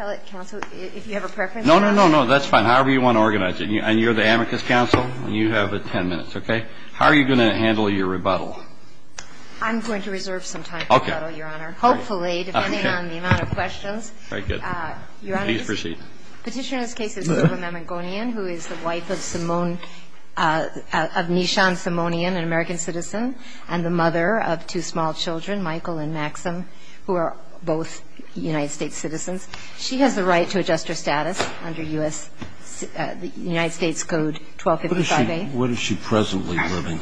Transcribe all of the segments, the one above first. If you have a preference. No, no, no, no, that's fine. However you want to organize it. And you're the amicus counsel, and you have ten minutes, okay? How are you going to handle your rebuttal? I'm going to reserve some time for rebuttal, Your Honor. Hopefully, depending on the amount of questions. Very good. Your Honor. Please proceed. Petitioner in this case is Selma Mamigonian, who is the wife of Nishan Simonian, an American citizen, and the mother of two small children, Michael and Maxim, who are both United States citizens. She has the right to adjust her status under United States Code 1255A. What is she presently living?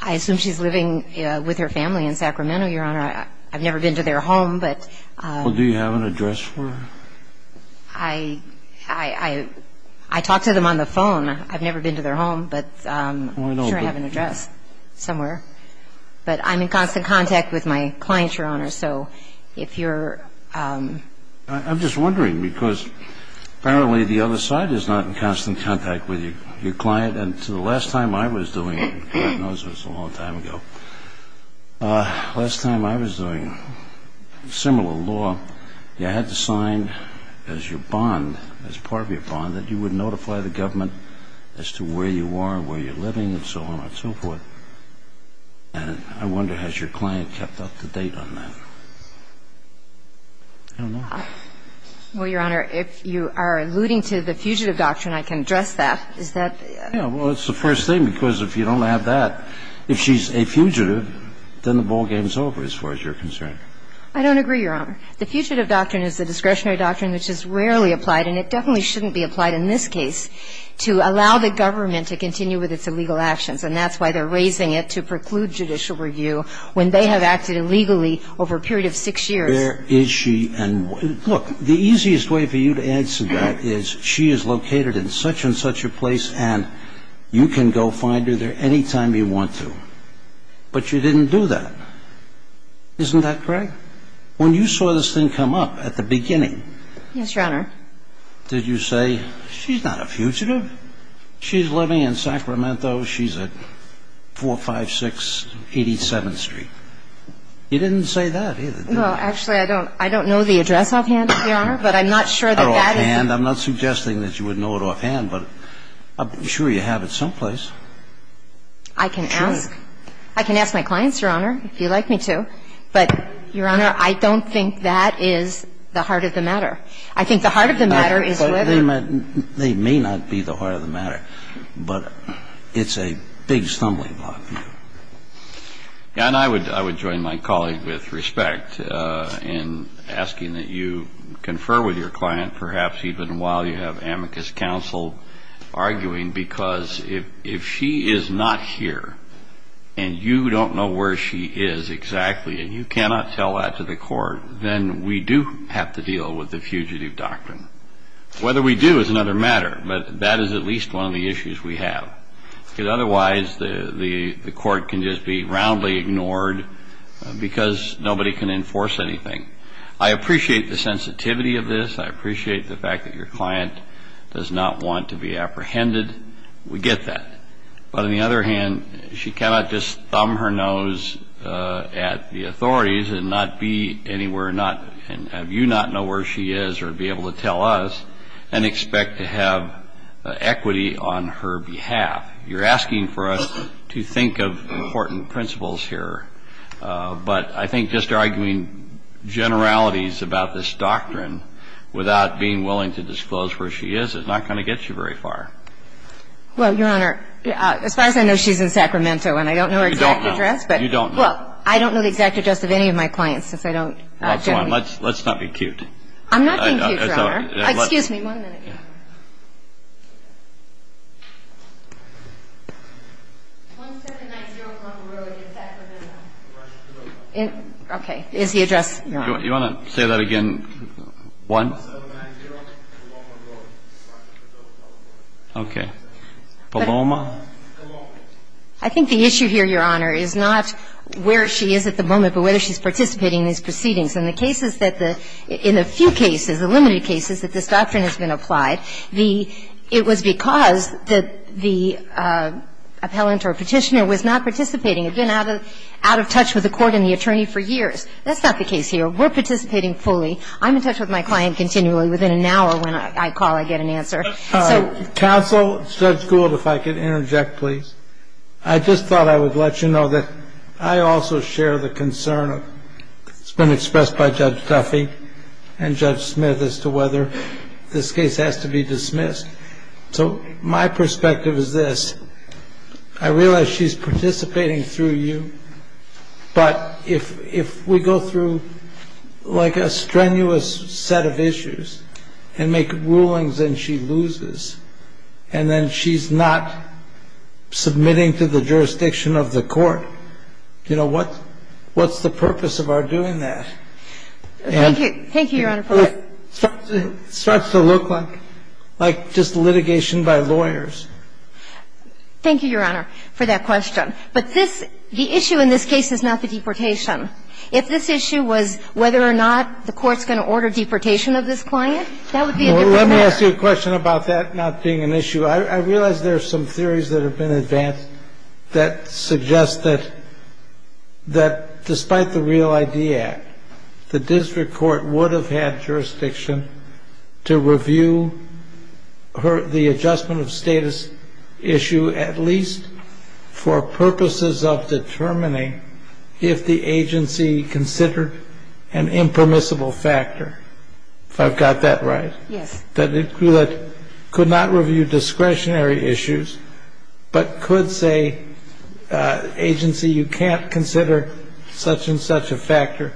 I assume she's living with her family in Sacramento, Your Honor. I've never been to their home. Do you have an address for her? I talked to them on the phone. I've never been to their home, but I'm sure I have an address somewhere. But I'm in constant contact with my client, Your Honor, so if you're ---- I'm just wondering, because apparently the other side is not in constant contact with your client. And the last time I was doing it, God knows it was a long time ago, last time I was doing similar law, you had to sign as your bond, as part of your bond, that you would notify the government as to where you are and where you're living and so on and so forth. And I wonder, has your client kept up to date on that? I don't know. Well, Your Honor, if you are alluding to the fugitive doctrine, I can address that. Is that ---- Yeah. Well, it's the first thing, because if you don't have that, if she's a fugitive, then the ball game is over, as far as you're concerned. I don't agree, Your Honor. The fugitive doctrine is a discretionary doctrine which is rarely applied, and it definitely shouldn't be applied in this case, to allow the government to continue with its illegal actions. And that's why they're raising it to preclude judicial review when they have acted illegally over a period of six years. Where is she? And look, the easiest way for you to answer that is she is located in such and such a place, and you can go find her there any time you want to. But you didn't do that. Isn't that correct? When you saw this thing come up at the beginning ---- Yes, Your Honor. Did you say, she's not a fugitive? She's living in Sacramento. She's not a fugitive. She's at 456 87th Street. You didn't say that, either, did you? Well, actually, I don't know the address offhand, Your Honor, but I'm not sure that that is the case. Not offhand. I'm not suggesting that you would know it offhand, but I'm sure you have it someplace. I can ask. I can ask my clients, Your Honor, if you like me to. But, Your Honor, I don't think that is the heart of the matter. I think the heart of the matter is whether ---- They may not be the heart of the matter, but it's a big stumbling block. And I would join my colleague with respect in asking that you confer with your client, perhaps even while you have amicus counsel arguing, because if she is not here and you don't know where she is exactly and you cannot tell that to the court, then we do have to What we do is another matter, but that is at least one of the issues we have. Because otherwise the court can just be roundly ignored because nobody can enforce anything. I appreciate the sensitivity of this. I appreciate the fact that your client does not want to be apprehended. We get that. But on the other hand, she cannot just thumb her nose at the authorities and not be anywhere, and you not know where she is or be able to tell us and expect to have equity on her behalf. You're asking for us to think of important principles here. But I think just arguing generalities about this doctrine without being willing to disclose where she is, it's not going to get you very far. Well, Your Honor, as far as I know, she's in Sacramento, and I don't know her exact address. You don't know. Well, I don't know the exact address of any of my clients, since I don't generally Let's not be cute. I'm not being cute, Your Honor. Excuse me one minute. Okay. Is the address You want to say that again? One? Okay. Paloma? I think the issue here, Your Honor, is not where she is at the moment, but whether she's participating in these proceedings. And the cases that the – in the few cases, the limited cases that this doctrine has been applied, the – it was because that the appellant or petitioner was not participating, had been out of touch with the court and the attorney for years. That's not the case here. We're participating fully. I'm in touch with my client continually. Within an hour when I call, I get an answer. Counsel, Judge Gould, if I could interject, please. I just thought I would let you know that I also share the concern of – it's been expressed by Judge Tuffy and Judge Smith as to whether this case has to be dismissed. So my perspective is this. I realize she's participating through you, but if we go through, like, a strenuous set of issues and make rulings and she loses, and then she's not submitting to the jurisdiction of the court, you know, what's the purpose of our doing that? Thank you. Thank you, Your Honor. It starts to look like just litigation by lawyers. Thank you, Your Honor, for that question. But this – the issue in this case is not the deportation. If this issue was whether or not the court's going to order deportation of this client, that would be a different matter. Well, let me ask you a question about that not being an issue. I realize there are some theories that have been advanced that suggest that despite the Real ID Act, the district court would have had jurisdiction to review the adjustment of status issue at least for purposes of determining if the agency considered an impermissible factor, if I've got that right. Yes. That it could not review discretionary issues, but could say, agency, you can't consider such and such a factor.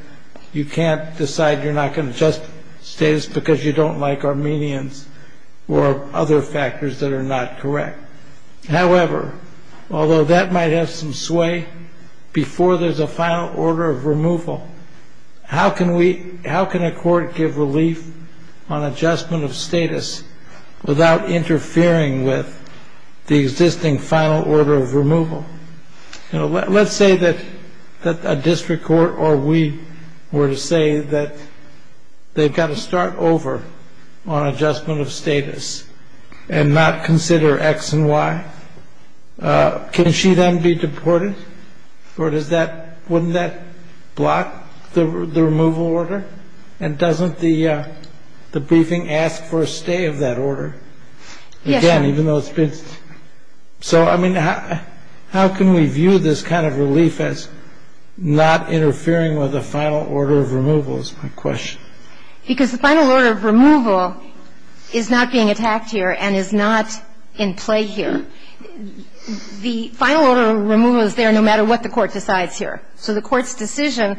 You can't decide you're not going to adjust status because you don't like Armenians or other factors that are not correct. However, although that might have some sway before there's a final order of removal, how can we – how can a court give relief on adjustment of status without interfering with the existing final order of removal? You know, let's say that a district court or we were to say that they've got to start over on adjustment of status and not consider X and Y, can she then be deported? Or does that – wouldn't that block the removal order? And doesn't the briefing ask for a stay of that order? Yes. Again, even though it's been – so, I mean, how can we view this kind of relief as not interfering with the final order of removal is my question. Because the final order of removal is not being attacked here and is not in play here. The final order of removal is there no matter what the court decides here. So the court's decision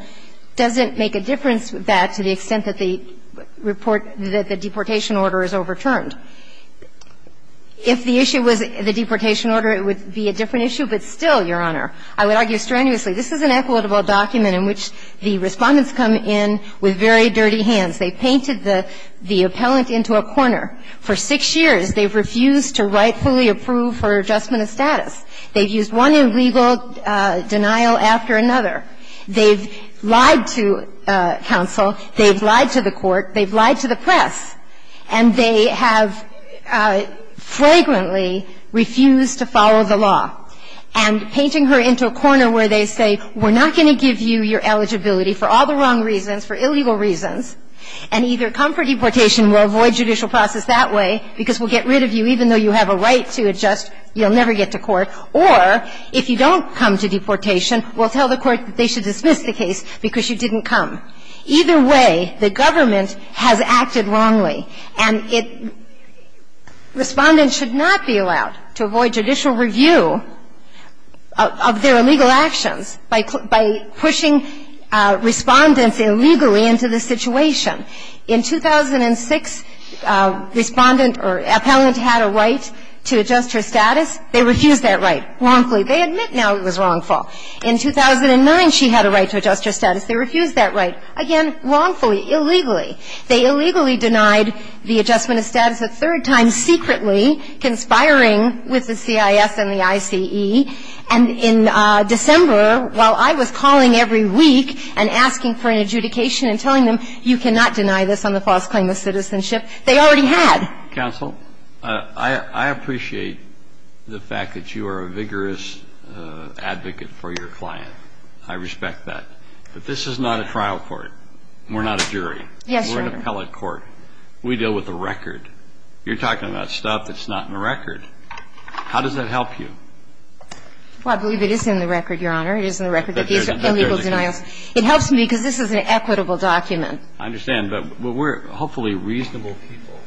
doesn't make a difference that to the extent that the report – that the deportation order is overturned. If the issue was the deportation order, it would be a different issue. But still, Your Honor, I would argue strenuously, this is an equitable document in which the Respondents come in with very dirty hands. They've painted the appellant into a corner. For six years, they've refused to rightfully approve her adjustment of status. They've used one illegal denial after another. They've lied to counsel. They've lied to the court. They've lied to the press. And they have fragrantly refused to follow the law. And painting her into a corner where they say, we're not going to give you your eligibility for all the wrong reasons, for illegal reasons, and either come for deportation and we'll avoid judicial process that way because we'll get rid of you even though you have a right to adjust, you'll never get to court, or if you don't come to deportation, we'll tell the court that they should dismiss the case because you didn't come. Either way, the government has acted wrongly. And it, Respondents should not be allowed to avoid judicial review of their illegal actions by pushing Respondents illegally into the situation. In 2006, Respondent or appellant had a right to adjust her status. They refused that right wrongfully. They admit now it was wrongful. In 2009, she had a right to adjust her status. They refused that right, again, wrongfully, illegally. They illegally denied the adjustment of status a third time secretly, conspiring with the CIS and the ICE. And in December, while I was calling every week and asking for an adjudication and telling them, you cannot deny this on the false claim of citizenship, they already had. Counsel, I appreciate the fact that you are a vigorous advocate for your client. I respect that. But this is not a trial court. We're not a jury. We're an appellate court. We deal with the record. You're talking about stuff that's not in the record. How does that help you? Well, I believe it is in the record, Your Honor. It is in the record that these are illegal denials. It helps me because this is an equitable document. I understand. But we're hopefully reasonable people.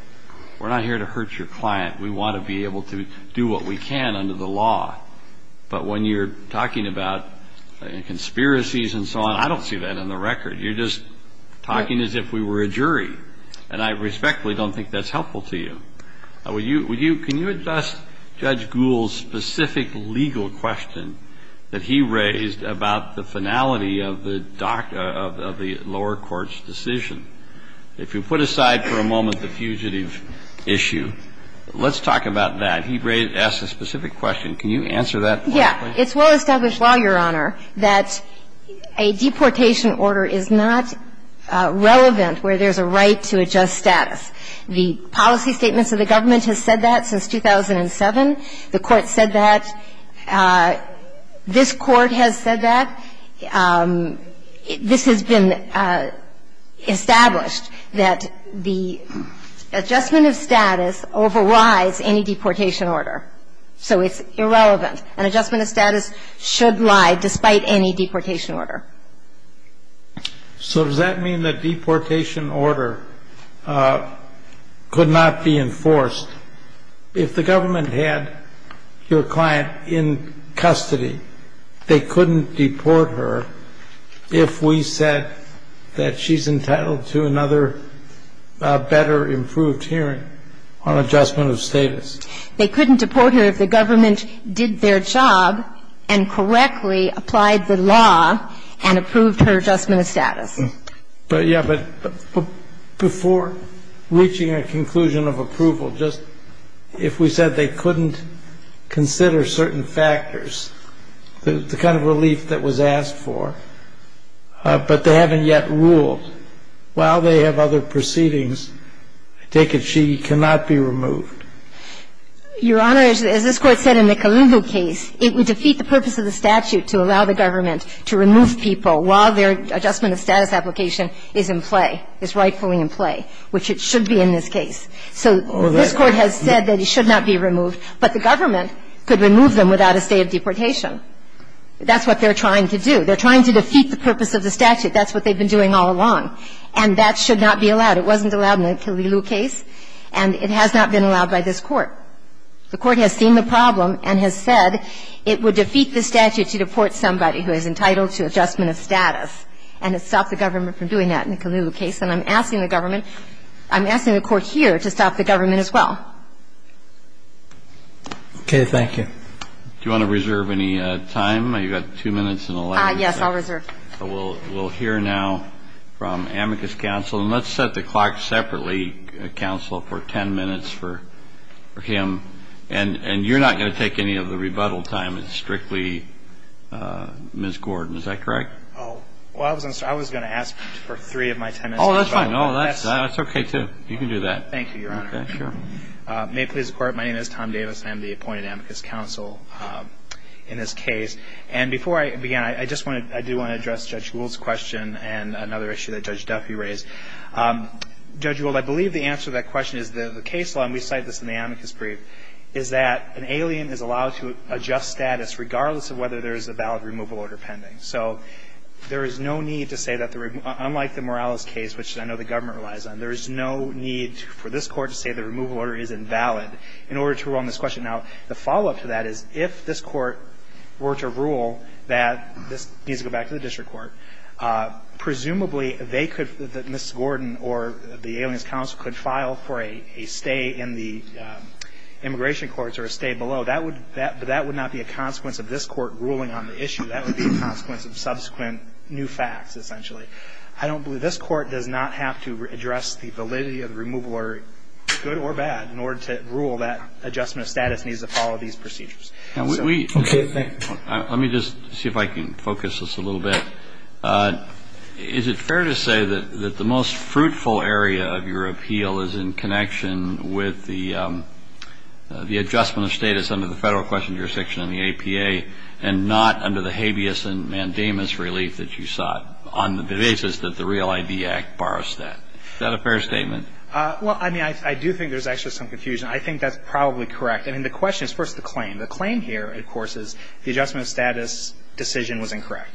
We're not here to hurt your client. We want to be able to do what we can under the law. But when you're talking about conspiracies and so on, I don't see that in the record. You're just talking as if we were a jury. And I respectfully don't think that's helpful to you. Can you address Judge Gould's specific legal question that he raised about the finality of the lower court's decision? If you put aside for a moment the fugitive issue, let's talk about that. He asked a specific question. Can you answer that? Yes. It's well established law, Your Honor, that a deportation order is not relevant where there's a right to adjust status. The policy statements of the government have said that since 2007. The Court said that. This Court has said that. This has been established that the adjustment of status overrides any deportation order. So it's irrelevant. An adjustment of status should lie despite any deportation order. So does that mean that deportation order could not be enforced? If the government had your client in custody, they couldn't deport her if we said that she's entitled to another better improved hearing on adjustment of status? They couldn't deport her if the government did their job and correctly applied the law and approved her adjustment of status. But, yeah, but before reaching a conclusion of approval, just if we said they couldn't consider certain factors, the kind of relief that was asked for, but they haven't yet ruled. While they have other proceedings, I take it she cannot be removed. Your Honor, as this Court said in the Kalilu case, it would defeat the purpose of the statute to allow the government to remove people while their adjustment of status application is in play, is rightfully in play, which it should be in this case. So this Court has said that it should not be removed. But the government could remove them without a state of deportation. That's what they're trying to do. They're trying to defeat the purpose of the statute. That's what they've been doing all along. And that should not be allowed. It wasn't allowed in the Kalilu case, and it has not been allowed by this Court. The Court has seen the problem and has said it would defeat the statute to deport somebody who is entitled to adjustment of status, and it stopped the government from doing that in the Kalilu case. And I'm asking the government, I'm asking the Court here to stop the government as well. Okay. Thank you. Do you want to reserve any time? You've got two minutes and 11 seconds. Yes, I'll reserve. So we'll hear now from Amicus Counsel. And let's set the clock separately, Counsel, for 10 minutes for him. And you're not going to take any of the rebuttal time. It's strictly Ms. Gordon. Is that correct? Well, I was going to ask for three of my 10 minutes. Oh, that's fine. That's okay, too. You can do that. Thank you, Your Honor. May it please the Court. My name is Tom Davis, and I'm the appointed Amicus Counsel in this case. And before I begin, I do want to address Judge Gould's question and another issue that Judge Duffy raised. Judge Gould, I believe the answer to that question is the case law, and we cite this in the Amicus brief, is that an alien is allowed to adjust status regardless of whether there is a valid removal order pending. So there is no need to say that, unlike the Morales case, which I know the government relies on, there is no need for this Court to say the removal order is invalid in order to run this question. Now, the follow-up to that is if this Court were to rule that this needs to go back to the district court, presumably they could, Ms. Gordon or the alien's counsel could file for a stay in the immigration courts or a stay below. That would not be a consequence of this Court ruling on the issue. That would be a consequence of subsequent new facts, essentially. I don't believe this Court does not have to address the validity of the removal order, good or bad, in order to rule that adjustment of status needs to follow these procedures. So thank you. Let me just see if I can focus this a little bit. Is it fair to say that the most fruitful area of your appeal is in connection with the adjustment of status under the Federal Question and Jurisdiction and the APA, and not under the habeas and mandamus relief that you sought on the basis that the Real ID Act bars that? Is that a fair statement? Well, I mean, I do think there's actually some confusion. I think that's probably correct. I mean, the question is first the claim. The claim here, of course, is the adjustment of status decision was incorrect.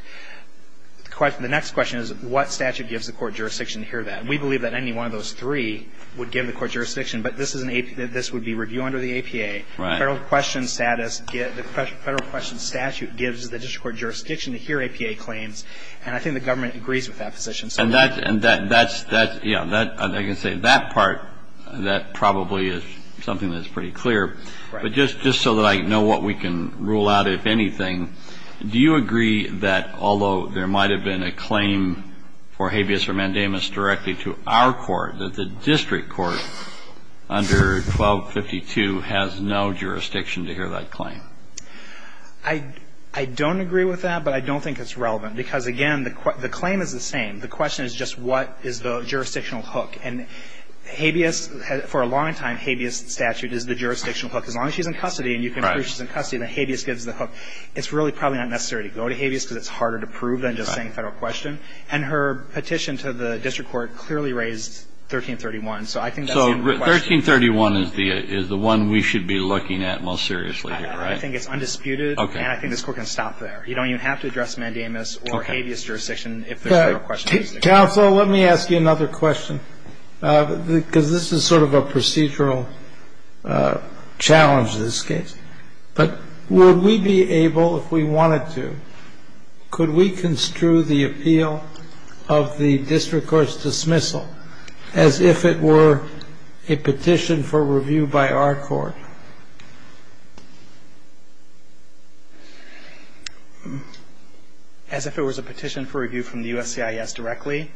The next question is what statute gives the court jurisdiction to hear that. And we believe that any one of those three would give the court jurisdiction. But this is an APA. This would be review under the APA. Right. Federal Question status, the Federal Question statute gives the district court jurisdiction to hear APA claims. And I think the government agrees with that position. And that's, yeah, I can say that part, that probably is something that's pretty clear. Right. But just so that I know what we can rule out, if anything, do you agree that although there might have been a claim for habeas or mandamus directly to our court, that the district court under 1252 has no jurisdiction to hear that claim? I don't agree with that, but I don't think it's relevant. Because, again, the claim is the same. The question is just what is the jurisdictional hook. And habeas, for a long time, habeas statute is the jurisdictional hook. As long as she's in custody and you can prove she's in custody, then habeas gives the hook. It's really probably not necessary to go to habeas because it's harder to prove than just saying Federal Question. And her petition to the district court clearly raised 1331. So I think that's the question. So 1331 is the one we should be looking at most seriously here, right? I think it's undisputed. Okay. And I think this court can stop there. You don't even have to address mandamus or habeas jurisdiction if there's Federal Question. Counsel, let me ask you another question, because this is sort of a procedural challenge in this case. But would we be able, if we wanted to, could we construe the appeal of the district court's dismissal as if it were a petition for review by our court? As if it was a petition for review from the USCIS directly?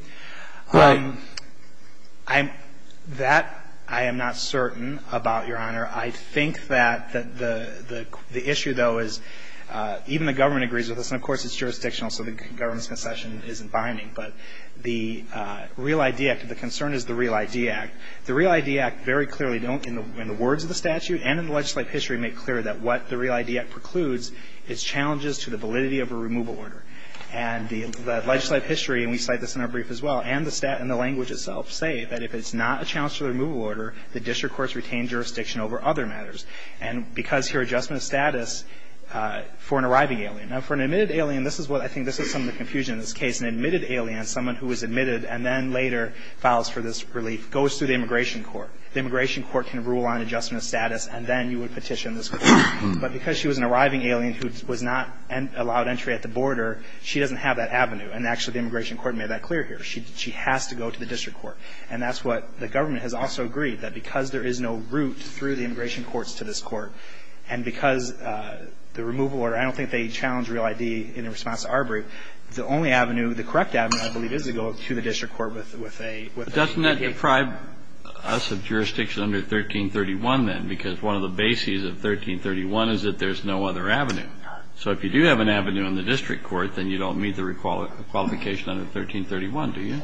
That, I am not certain about, Your Honor. I think that the issue, though, is even the government agrees with us. And, of course, it's jurisdictional, so the government's concession isn't binding. But the Real ID Act, the concern is the Real ID Act. The Real ID Act very clearly don't, in the words of the statute, in the words of the statute and in the legislative history, make clear that what the Real ID Act precludes is challenges to the validity of a removal order. And the legislative history, and we cite this in our brief as well, and the language itself say that if it's not a challenge to the removal order, the district court's retained jurisdiction over other matters. And because here adjustment of status for an arriving alien. Now, for an admitted alien, this is what I think this is some of the confusion in this case. An admitted alien, someone who was admitted and then later files for this relief, goes through the immigration court. The immigration court can rule on adjustment of status, and then you would petition this court. But because she was an arriving alien who was not allowed entry at the border, she doesn't have that avenue. And actually, the immigration court made that clear here. She has to go to the district court. And that's what the government has also agreed, that because there is no route through the immigration courts to this court, and because the removal order, I don't think they challenge Real ID in response to our brief. The only avenue, the correct avenue, I believe, is to go to the district court with And you can't deprive us of jurisdiction under 1331, then, because one of the bases of 1331 is that there's no other avenue. So if you do have an avenue in the district court, then you don't meet the qualification under 1331, do you?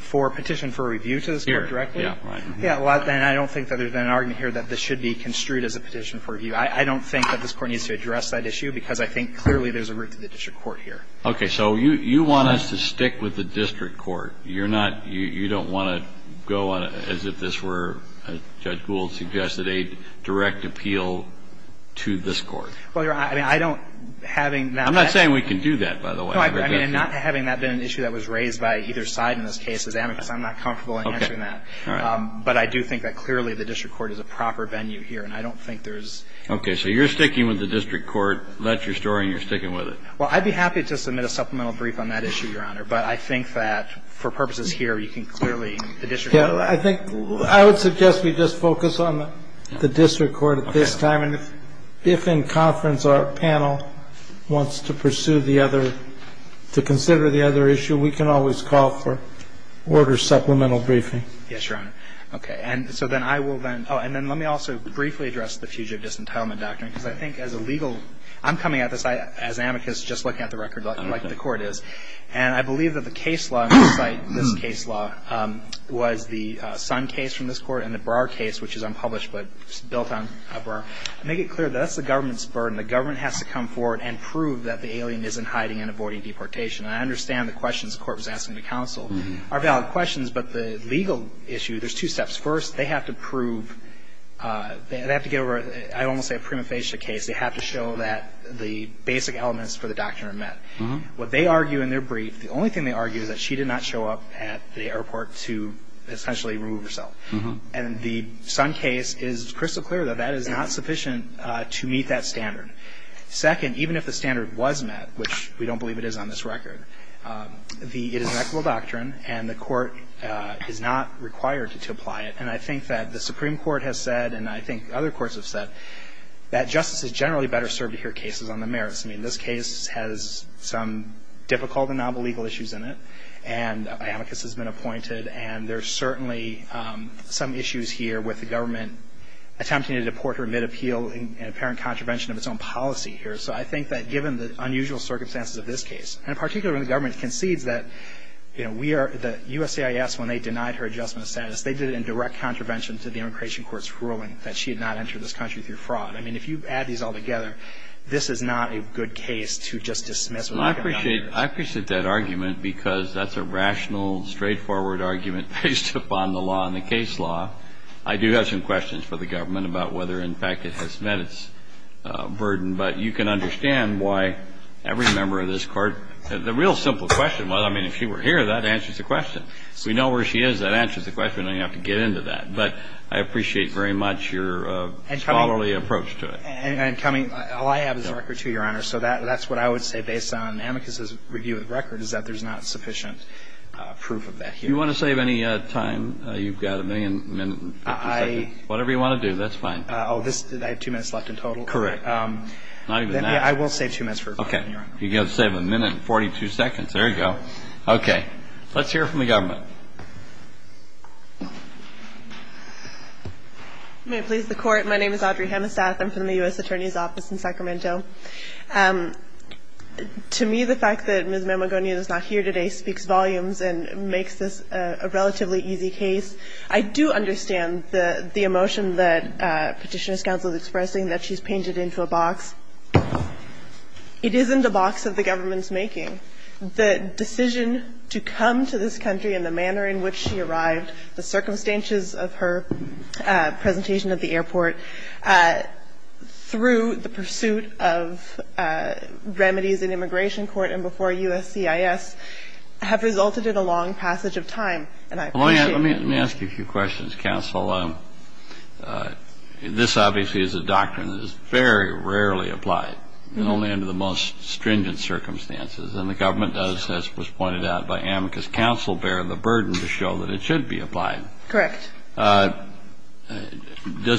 For a petition for review to this court directly? Here. Yeah. Right. Yeah. Well, and I don't think that there's been an argument here that this should be construed as a petition for review. I don't think that this Court needs to address that issue, because I think clearly there's a route to the district court here. So you want us to stick with the district court. You're not you don't want to go on it as if this were, as Judge Gould suggested, a direct appeal to this Court. Well, Your Honor, I mean, I don't having that. I'm not saying we can do that, by the way. No, I mean, and not having that been an issue that was raised by either side in this case is amicus. I'm not comfortable in answering that. Okay. All right. But I do think that clearly the district court is a proper venue here, and I don't think there's. Okay. So you're sticking with the district court. That's your story, and you're sticking with it. Well, I'd be happy to submit a supplemental brief on that issue, Your Honor. But I think that for purposes here, you can clearly, the district court. Yeah. I think I would suggest we just focus on the district court at this time. Okay. And if in conference our panel wants to pursue the other, to consider the other issue, we can always call for order supplemental briefing. Yes, Your Honor. Okay. And so then I will then. Oh, and then let me also briefly address the Fugitive Disentitlement Doctrine, because I think as a legal, I'm coming at this as amicus, just looking at the record like the Court is. And I believe that the case law on this site, this case law, was the Sun case from this Court and the Brar case, which is unpublished, but it's built on Brar. I make it clear that that's the government's burden. The government has to come forward and prove that the alien isn't hiding and avoiding deportation. And I understand the questions the Court was asking the counsel are valid questions, but the legal issue, there's two steps. First, they have to prove, they have to get over, I almost say a prima facie case. They have to show that the basic elements for the doctrine are met. What they argue in their brief, the only thing they argue is that she did not show up at the airport to essentially remove herself. And the Sun case is crystal clear that that is not sufficient to meet that standard. Second, even if the standard was met, which we don't believe it is on this record, it is an equitable doctrine and the Court is not required to apply it. And I think that the Supreme Court has said, and I think other courts have said, that justice is generally better served to hear cases on the merits. I mean, this case has some difficult and novel legal issues in it. And amicus has been appointed. And there's certainly some issues here with the government attempting to deport her mid-appeal in apparent contravention of its own policy here. So I think that given the unusual circumstances of this case, and particularly when the government concedes that, you know, we are, the USAIS, when they denied her adjustment of status, they did it in direct contravention to the immigration court's ruling that she had not entered this country through fraud. I mean, if you add these all together, this is not a good case to just dismiss what the government does. Kennedy, I appreciate that argument because that's a rational, straightforward argument based upon the law and the case law. I do have some questions for the government about whether, in fact, it has met its burden, but you can understand why every member of this Court, the real simple question was, I mean, if she were here, that answers the question. We know where she is. That answers the question. I don't have to get into that. But I appreciate very much your scholarly approach to it. And coming, all I have is a record, too, Your Honor. So that's what I would say, based on Amicus's review of the record, is that there's not sufficient proof of that here. Do you want to save any time? You've got a minute and 50 seconds. Whatever you want to do, that's fine. Oh, this, I have two minutes left in total? Correct. Not even that. I will save two minutes for a question, Your Honor. You can save a minute and 42 seconds. There you go. Okay. Let's hear from the government. Go ahead. May it please the Court. My name is Audrey Hemmestath. I'm from the U.S. Attorney's Office in Sacramento. To me, the fact that Ms. Mamagonian is not here today speaks volumes and makes this a relatively easy case. I do understand the emotion that Petitioner's counsel is expressing, that she's painted into a box. It isn't a box that the government is making. The decision to come to this country and the manner in which she arrived, the circumstances of her presentation at the airport, through the pursuit of remedies in immigration court and before USCIS, have resulted in a long passage of time, and I appreciate that. Let me ask you a few questions, counsel. This obviously is a doctrine that is very rarely applied, and only under the most stringent circumstances. And the government does, as was pointed out by Amicus Counsel, bear the burden to show that it should be applied. Correct. Does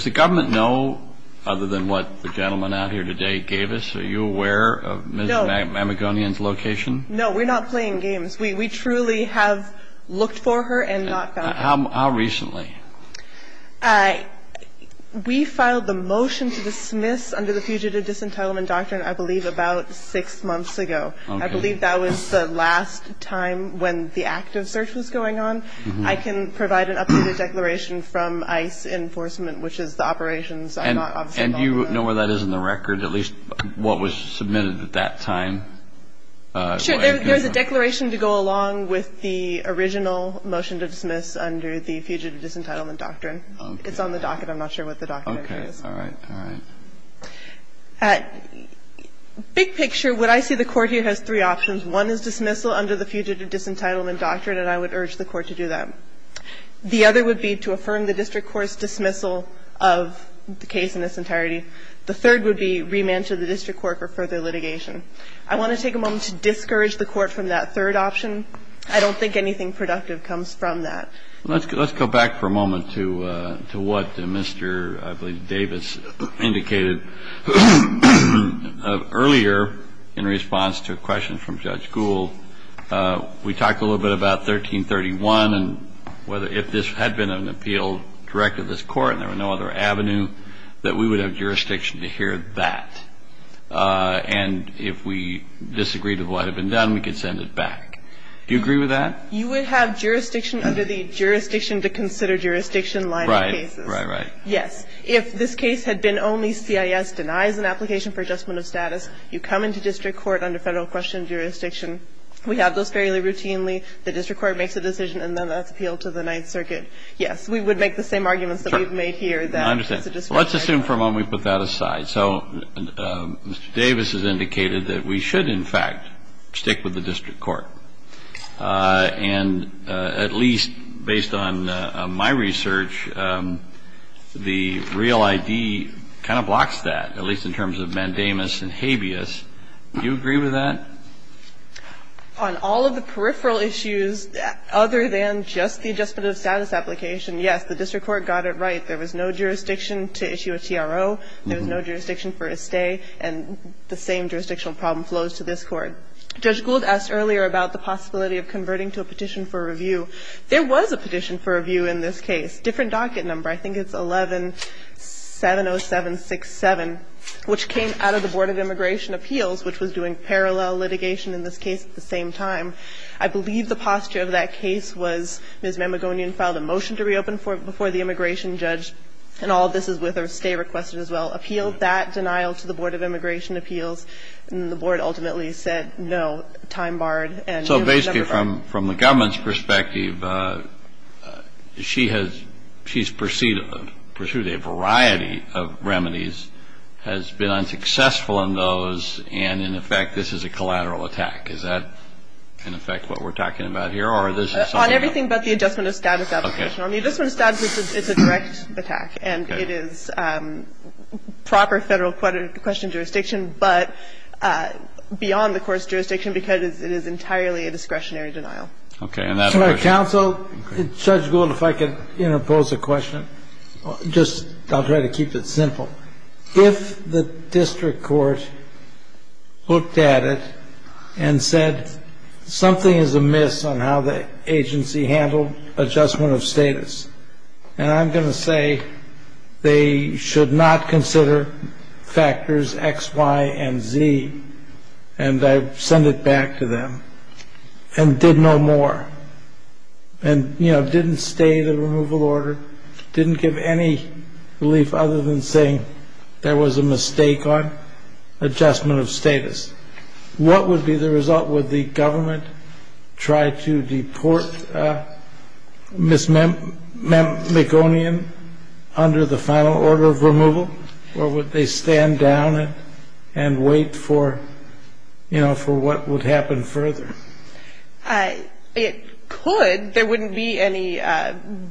the government know, other than what the gentleman out here today gave us, are you aware of Ms. Mamagonian's location? No. We're not playing games. We truly have looked for her and not found her. How recently? We filed the motion to dismiss under the Fugitive Disentitlement Doctrine, I believe, about six months ago. I believe that was the last time when the active search was going on. I can provide an updated declaration from ICE Enforcement, which is the operations I'm not obviously involved with. And do you know where that is in the record, at least what was submitted at that time? Sure. There's a declaration to go along with the original motion to dismiss under the Fugitive Disentitlement Doctrine. Okay. It's on the docket. I'm not sure what the docket is. Okay. All right. All right. Big picture, what I see the Court here has three options. One is dismissal under the Fugitive Disentitlement Doctrine, and I would urge the Court to do that. The other would be to affirm the district court's dismissal of the case in its entirety. The third would be remand to the district court for further litigation. I want to take a moment to discourage the Court from that third option. I don't think anything productive comes from that. Let's go back for a moment to what Mr., I believe, Davis indicated earlier in response to a question from Judge Gould. We talked a little bit about 1331, and if this had been an appeal directed to this court and there were no other avenue, that we would have jurisdiction to hear that. And if we disagreed with what had been done, we could send it back. Do you agree with that? You would have jurisdiction under the Jurisdiction to Consider Jurisdiction line of cases. Right, right, right. Yes. If this case had been only CIS denies an application for adjustment of status, you come into district court under Federal question jurisdiction. We have those fairly routinely. The district court makes a decision and then that's appealed to the Ninth Circuit. We would make the same arguments that we've made here that it's a district court. I understand. Let's assume for a moment we put that aside. So Mr. Davis has indicated that we should in fact stick with the district court. And at least based on my research, the real ID kind of blocks that, at least in terms of mandamus and habeas. Do you agree with that? On all of the peripheral issues other than just the adjustment of status application, yes, the district court got it right. There was no jurisdiction to issue a TRO. There was no jurisdiction for a stay. And the same jurisdictional problem flows to this Court. Judge Gould asked earlier about the possibility of converting to a petition for review. There was a petition for review in this case. Different docket number. I think it's 11-70767, which came out of the Board of Immigration Appeals, which was doing parallel litigation in this case at the same time. I believe the posture of that case was Ms. Mamagonian filed a motion to reopen before the immigration judge. And all of this is with a stay requested as well. Appealed that denial to the Board of Immigration Appeals. The Board ultimately said no, time barred. So basically from the government's perspective, she has pursued a variety of remedies, has been unsuccessful in those, and in effect this is a collateral attack. Is that in effect what we're talking about here? On everything but the adjustment of status application. Okay. On the adjustment of status, it's a direct attack. And it is proper Federal question jurisdiction. But beyond the court's jurisdiction, because it is entirely a discretionary denial. Okay. And that's our issue. Counsel, Judge Gould, if I could pose a question. Just I'll try to keep it simple. If the district court looked at it and said something is amiss on how the agency handled adjustment of status, and I'm going to say they should not consider factors X, Y, and Z, and I send it back to them, and did no more. And, you know, didn't stay the removal order. Didn't give any relief other than saying there was a mistake on adjustment of status. What would be the result? Would the government try to deport Ms. McGonian under the final order of removal? Or would they stand down and wait for, you know, for what would happen further? It could. There wouldn't be any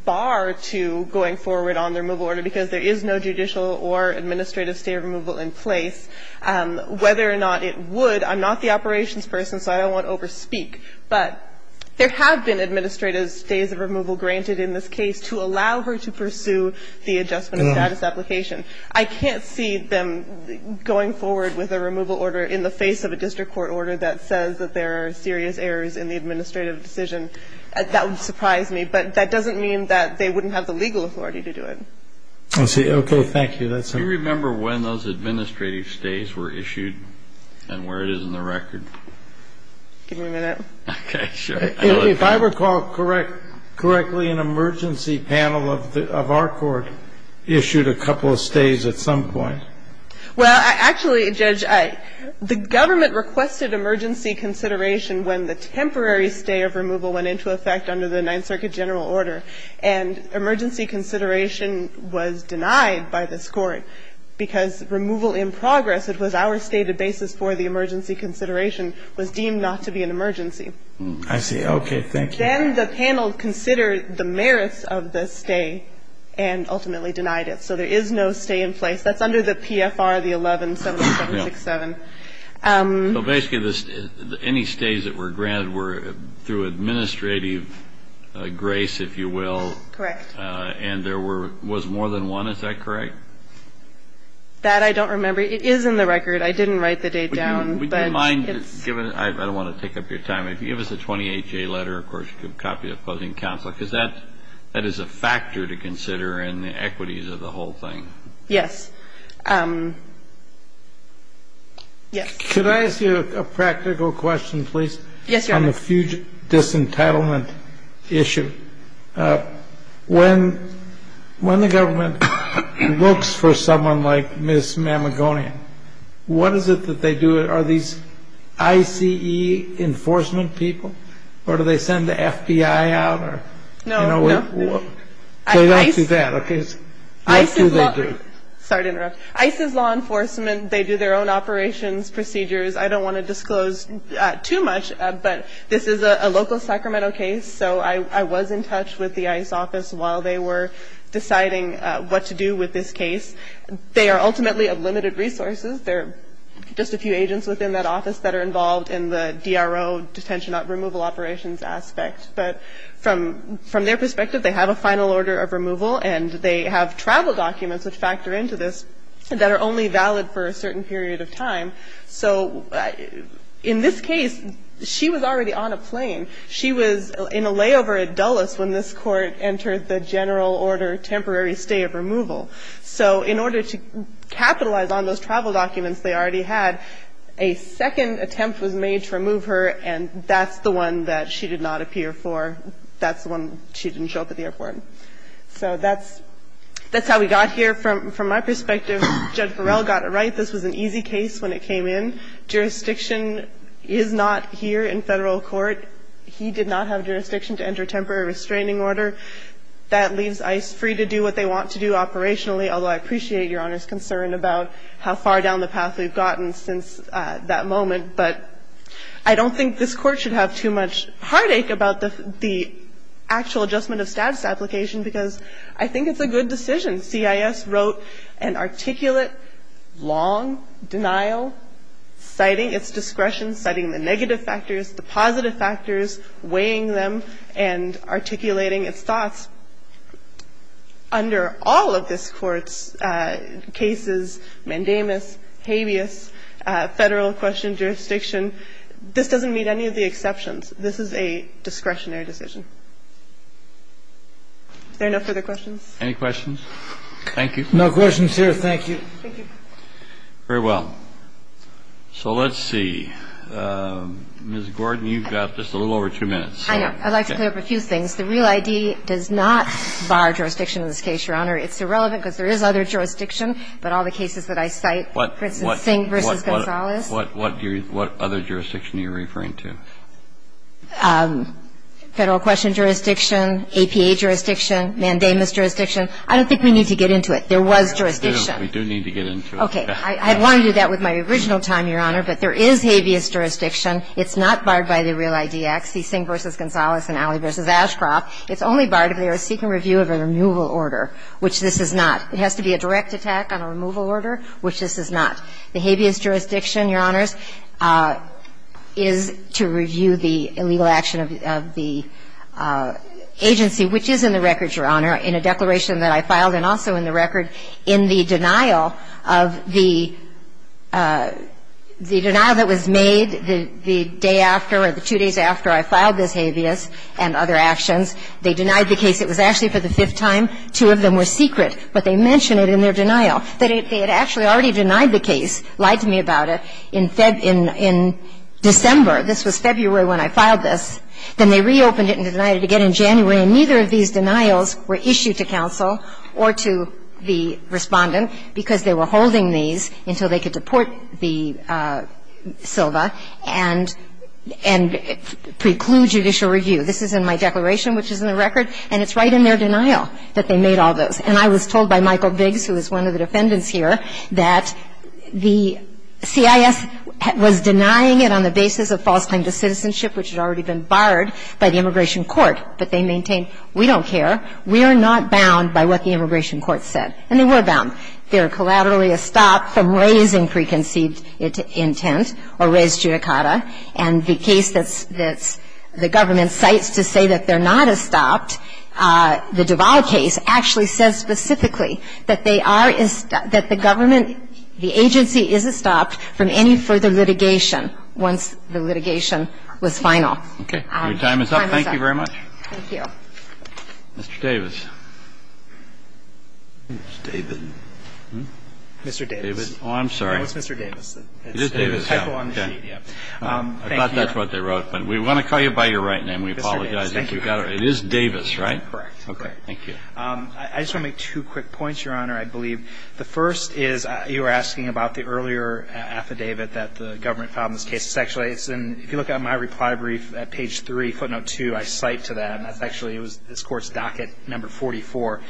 bar to going forward on the removal order, because there is no judicial or administrative stay of removal in place. Whether or not it would, I'm not the operations person, so I don't want to overspeak, but there have been administrative stays of removal granted in this case to allow her to pursue the adjustment of status application. I can't see them going forward with a removal order in the face of a district court order that says that there are serious errors in the administrative decision. That would surprise me. But that doesn't mean that they wouldn't have the legal authority to do it. Okay. Thank you. Do you remember when those administrative stays were issued and where it is in the record? Give me a minute. Okay. If I recall correctly, an emergency panel of our court issued a couple of stays at some point. Well, actually, Judge, the government requested emergency consideration when the temporary stay of removal went into effect under the Ninth Circuit general order, and emergency consideration was denied by this Court because removal in progress, it was our stated basis for the emergency consideration, was deemed not to be an emergency. I see. Okay. Thank you. Then the panel considered the merits of the stay and ultimately denied it. So there is no stay in place. That's under the PFR, the 117767. So basically, any stays that were granted were through administrative grace, if you will. Correct. And there was more than one. Is that correct? That I don't remember. It is in the record. I didn't write the date down. Would you mind, given that I don't want to take up your time, if you give us a 28-J letter, of course, you could copy it, opposing counsel, because that is a factor to consider in the equities of the whole thing. Yes. Yes. Could I ask you a practical question, please? Yes, Your Honor. On the fugitive disentitlement issue. When the government looks for someone like Ms. Mamagonian, what is it that they do? Are these ICE enforcement people? Or do they send the FBI out? No. They don't do that, okay? What do they do? Sorry to interrupt. ICE is law enforcement. They do their own operations, procedures. I don't want to disclose too much, but this is a local Sacramento case. So I was in touch with the ICE office while they were deciding what to do with this case. They are ultimately of limited resources. There are just a few agents within that office that are involved in the DRO detention removal operations aspect. But from their perspective, they have a final order of removal, and they have travel documents which factor into this that are only valid for a certain period of time. So in this case, she was already on a plane. She was in a layover at Dulles when this Court entered the general order temporary stay of removal. So in order to capitalize on those travel documents they already had, a second attempt was made to remove her, and that's the one that she did not appear for. That's the one she didn't show up at the airport. So that's how we got here. From my perspective, Judge Burrell got it right. This was an easy case when it came in. Jurisdiction is not here in Federal court. He did not have jurisdiction to enter temporary restraining order. I think that's a good decision. I think it's a good decision to have the Federal court decide that this Court is going to remove her, that leaves ICE free to do what they want to do operationally, although I appreciate Your Honor's concern about how far down the path we've gotten since that moment. But I don't think this Court should have too much heartache about the actual adjustment of status application because I think it's a good decision. And as a matter of fact, if you look at motions that we have here, and this is a fairly long discussion, and CUI wrote and articulate long denial citing its discretion, citing the negative factors, the positive factors, weighing them and articulating its thoughts. Under all of this court's cases, mandamus, habeas, Federal question jurisdiction, this doesn't meet any of the exceptions. This is a discretionary decision. Are there no further questions? Any questions? Thank you. No questions here. Thank you. Thank you. Very well. So let's see. Ms. Gordon, you've got just a little over two minutes. I know. I'd like to clear up a few things. The real ID does not bar jurisdiction in this case, Your Honor. It's irrelevant because there is other jurisdiction, but all the cases that I cite, for instance, Sink v. Gonzalez. What other jurisdiction are you referring to? Federal question jurisdiction, APA jurisdiction, mandamus jurisdiction. I don't think we need to get into it. There was jurisdiction. We do need to get into it. Okay. I wanted to do that with my original time, Your Honor, but there is habeas jurisdiction. It's not barred by the real ID Act. See Sink v. Gonzalez and Alley v. Ashcroft. It's only barred if they are seeking review of a removal order, which this is not. It has to be a direct attack on a removal order, which this is not. The habeas jurisdiction, Your Honors, is to review the illegal action of the agency, which is in the record, Your Honor, in a declaration that I filed and also in the record in the denial of the denial that was made the day after or the two days after I filed this habeas and other actions. They denied the case. It was actually for the fifth time. Two of them were secret, but they mention it in their denial. They had actually already denied the case, lied to me about it, in December. This was February when I filed this. Then they reopened it and denied it again in January, and neither of these denials were issued to counsel or to the Respondent because they were holding these until they could deport Silva and preclude judicial review. This is in my declaration, which is in the record, and it's right in their denial that they made all those. And I was told by Michael Biggs, who is one of the defendants here, that the CIS was denying it on the basis of false claims of citizenship, which had already been barred by the Immigration Court. But they maintained, we don't care. We are not bound by what the Immigration Court said. And they were bound. They were collaterally estopped from raising preconceived intent or raised judicata. And the case that the government cites to say that they're not estopped, the Duval case, actually says specifically that they are estopped, that the government, the agency is estopped from any further litigation once the litigation was final. Okay. Your time is up. Thank you very much. Thank you. Mr. Davis. It's David. Mr. Davis. Oh, I'm sorry. No, it's Mr. Davis. It is Davis. I thought that's what they wrote. But we want to call you by your right name. We apologize if you got it wrong. It is Davis, right? Correct. Okay. Thank you. I just want to make two quick points, Your Honor, I believe. The first is you were asking about the earlier affidavit that the government filed in this case. It's actually, if you look at my reply brief at page 3, footnote 2, I cite to that. And that's actually, it was this Court's docket number 44.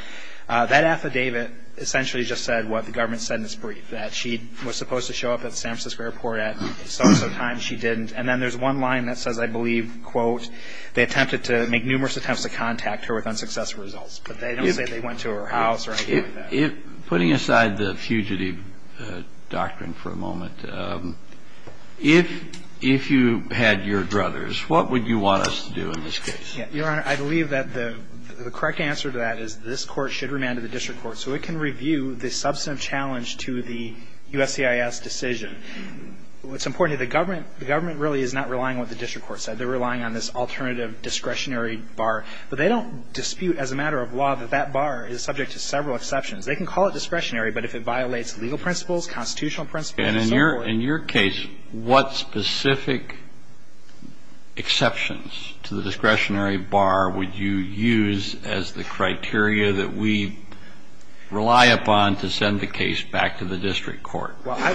That affidavit essentially just said what the government said in this brief, that she was supposed to show up at the San Francisco airport at some time. She didn't. And then there's one line that says, I believe, quote, they attempted to make numerous attempts to contact her with unsuccessful results. But they don't say they went to her house or anything like that. Putting aside the fugitive doctrine for a moment, if you had your druthers, what would you want us to do in this case? Your Honor, I believe that the correct answer to that is this Court should remand to the district court so it can review the substantive challenge to the USCIS decision. But what's important to the government, the government really is not relying on what the district court said. They're relying on this alternative discretionary bar. But they don't dispute as a matter of law that that bar is subject to several exceptions. They can call it discretionary, but if it violates legal principles, constitutional principles, and so forth. And in your case, what specific exceptions to the discretionary bar would you use as the criteria that we rely upon to send the case back to the district court? Well,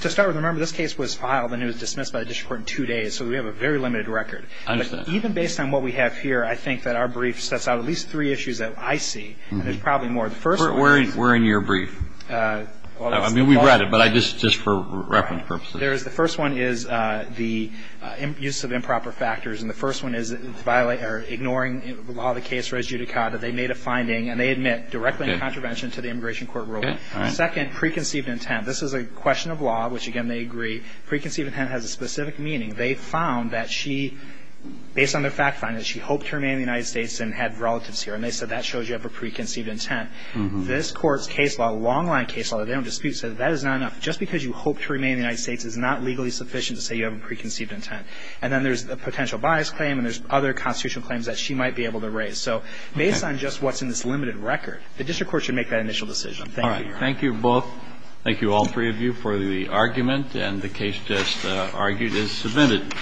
to start with, remember, this case was filed and it was dismissed by the district court in two days. So we have a very limited record. I understand. Even based on what we have here, I think that our brief sets out at least three issues that I see. And there's probably more. The first one is We're in your brief. I mean, we've read it. But just for reference purposes. The first one is the use of improper factors. And the first one is ignoring the law of the case res judicata. They made a finding and they admit directly in contravention to the immigration court ruling. All right. The second, preconceived intent. This is a question of law, which, again, they agree. Preconceived intent has a specific meaning. They found that she, based on their fact finding, that she hoped to remain in the United States and had relatives here. And they said that shows you have a preconceived intent. This Court's case law, long-line case law, they don't dispute, said that is not enough. Just because you hope to remain in the United States is not legally sufficient to say you have a preconceived intent. And then there's the potential bias claim and there's other constitutional claims that she might be able to raise. So based on just what's in this limited record, the district court should make that initial decision. Thank you, Your Honor. All right. Thank you both. Thank you, all three of you, for the argument. And the case just argued is submitted.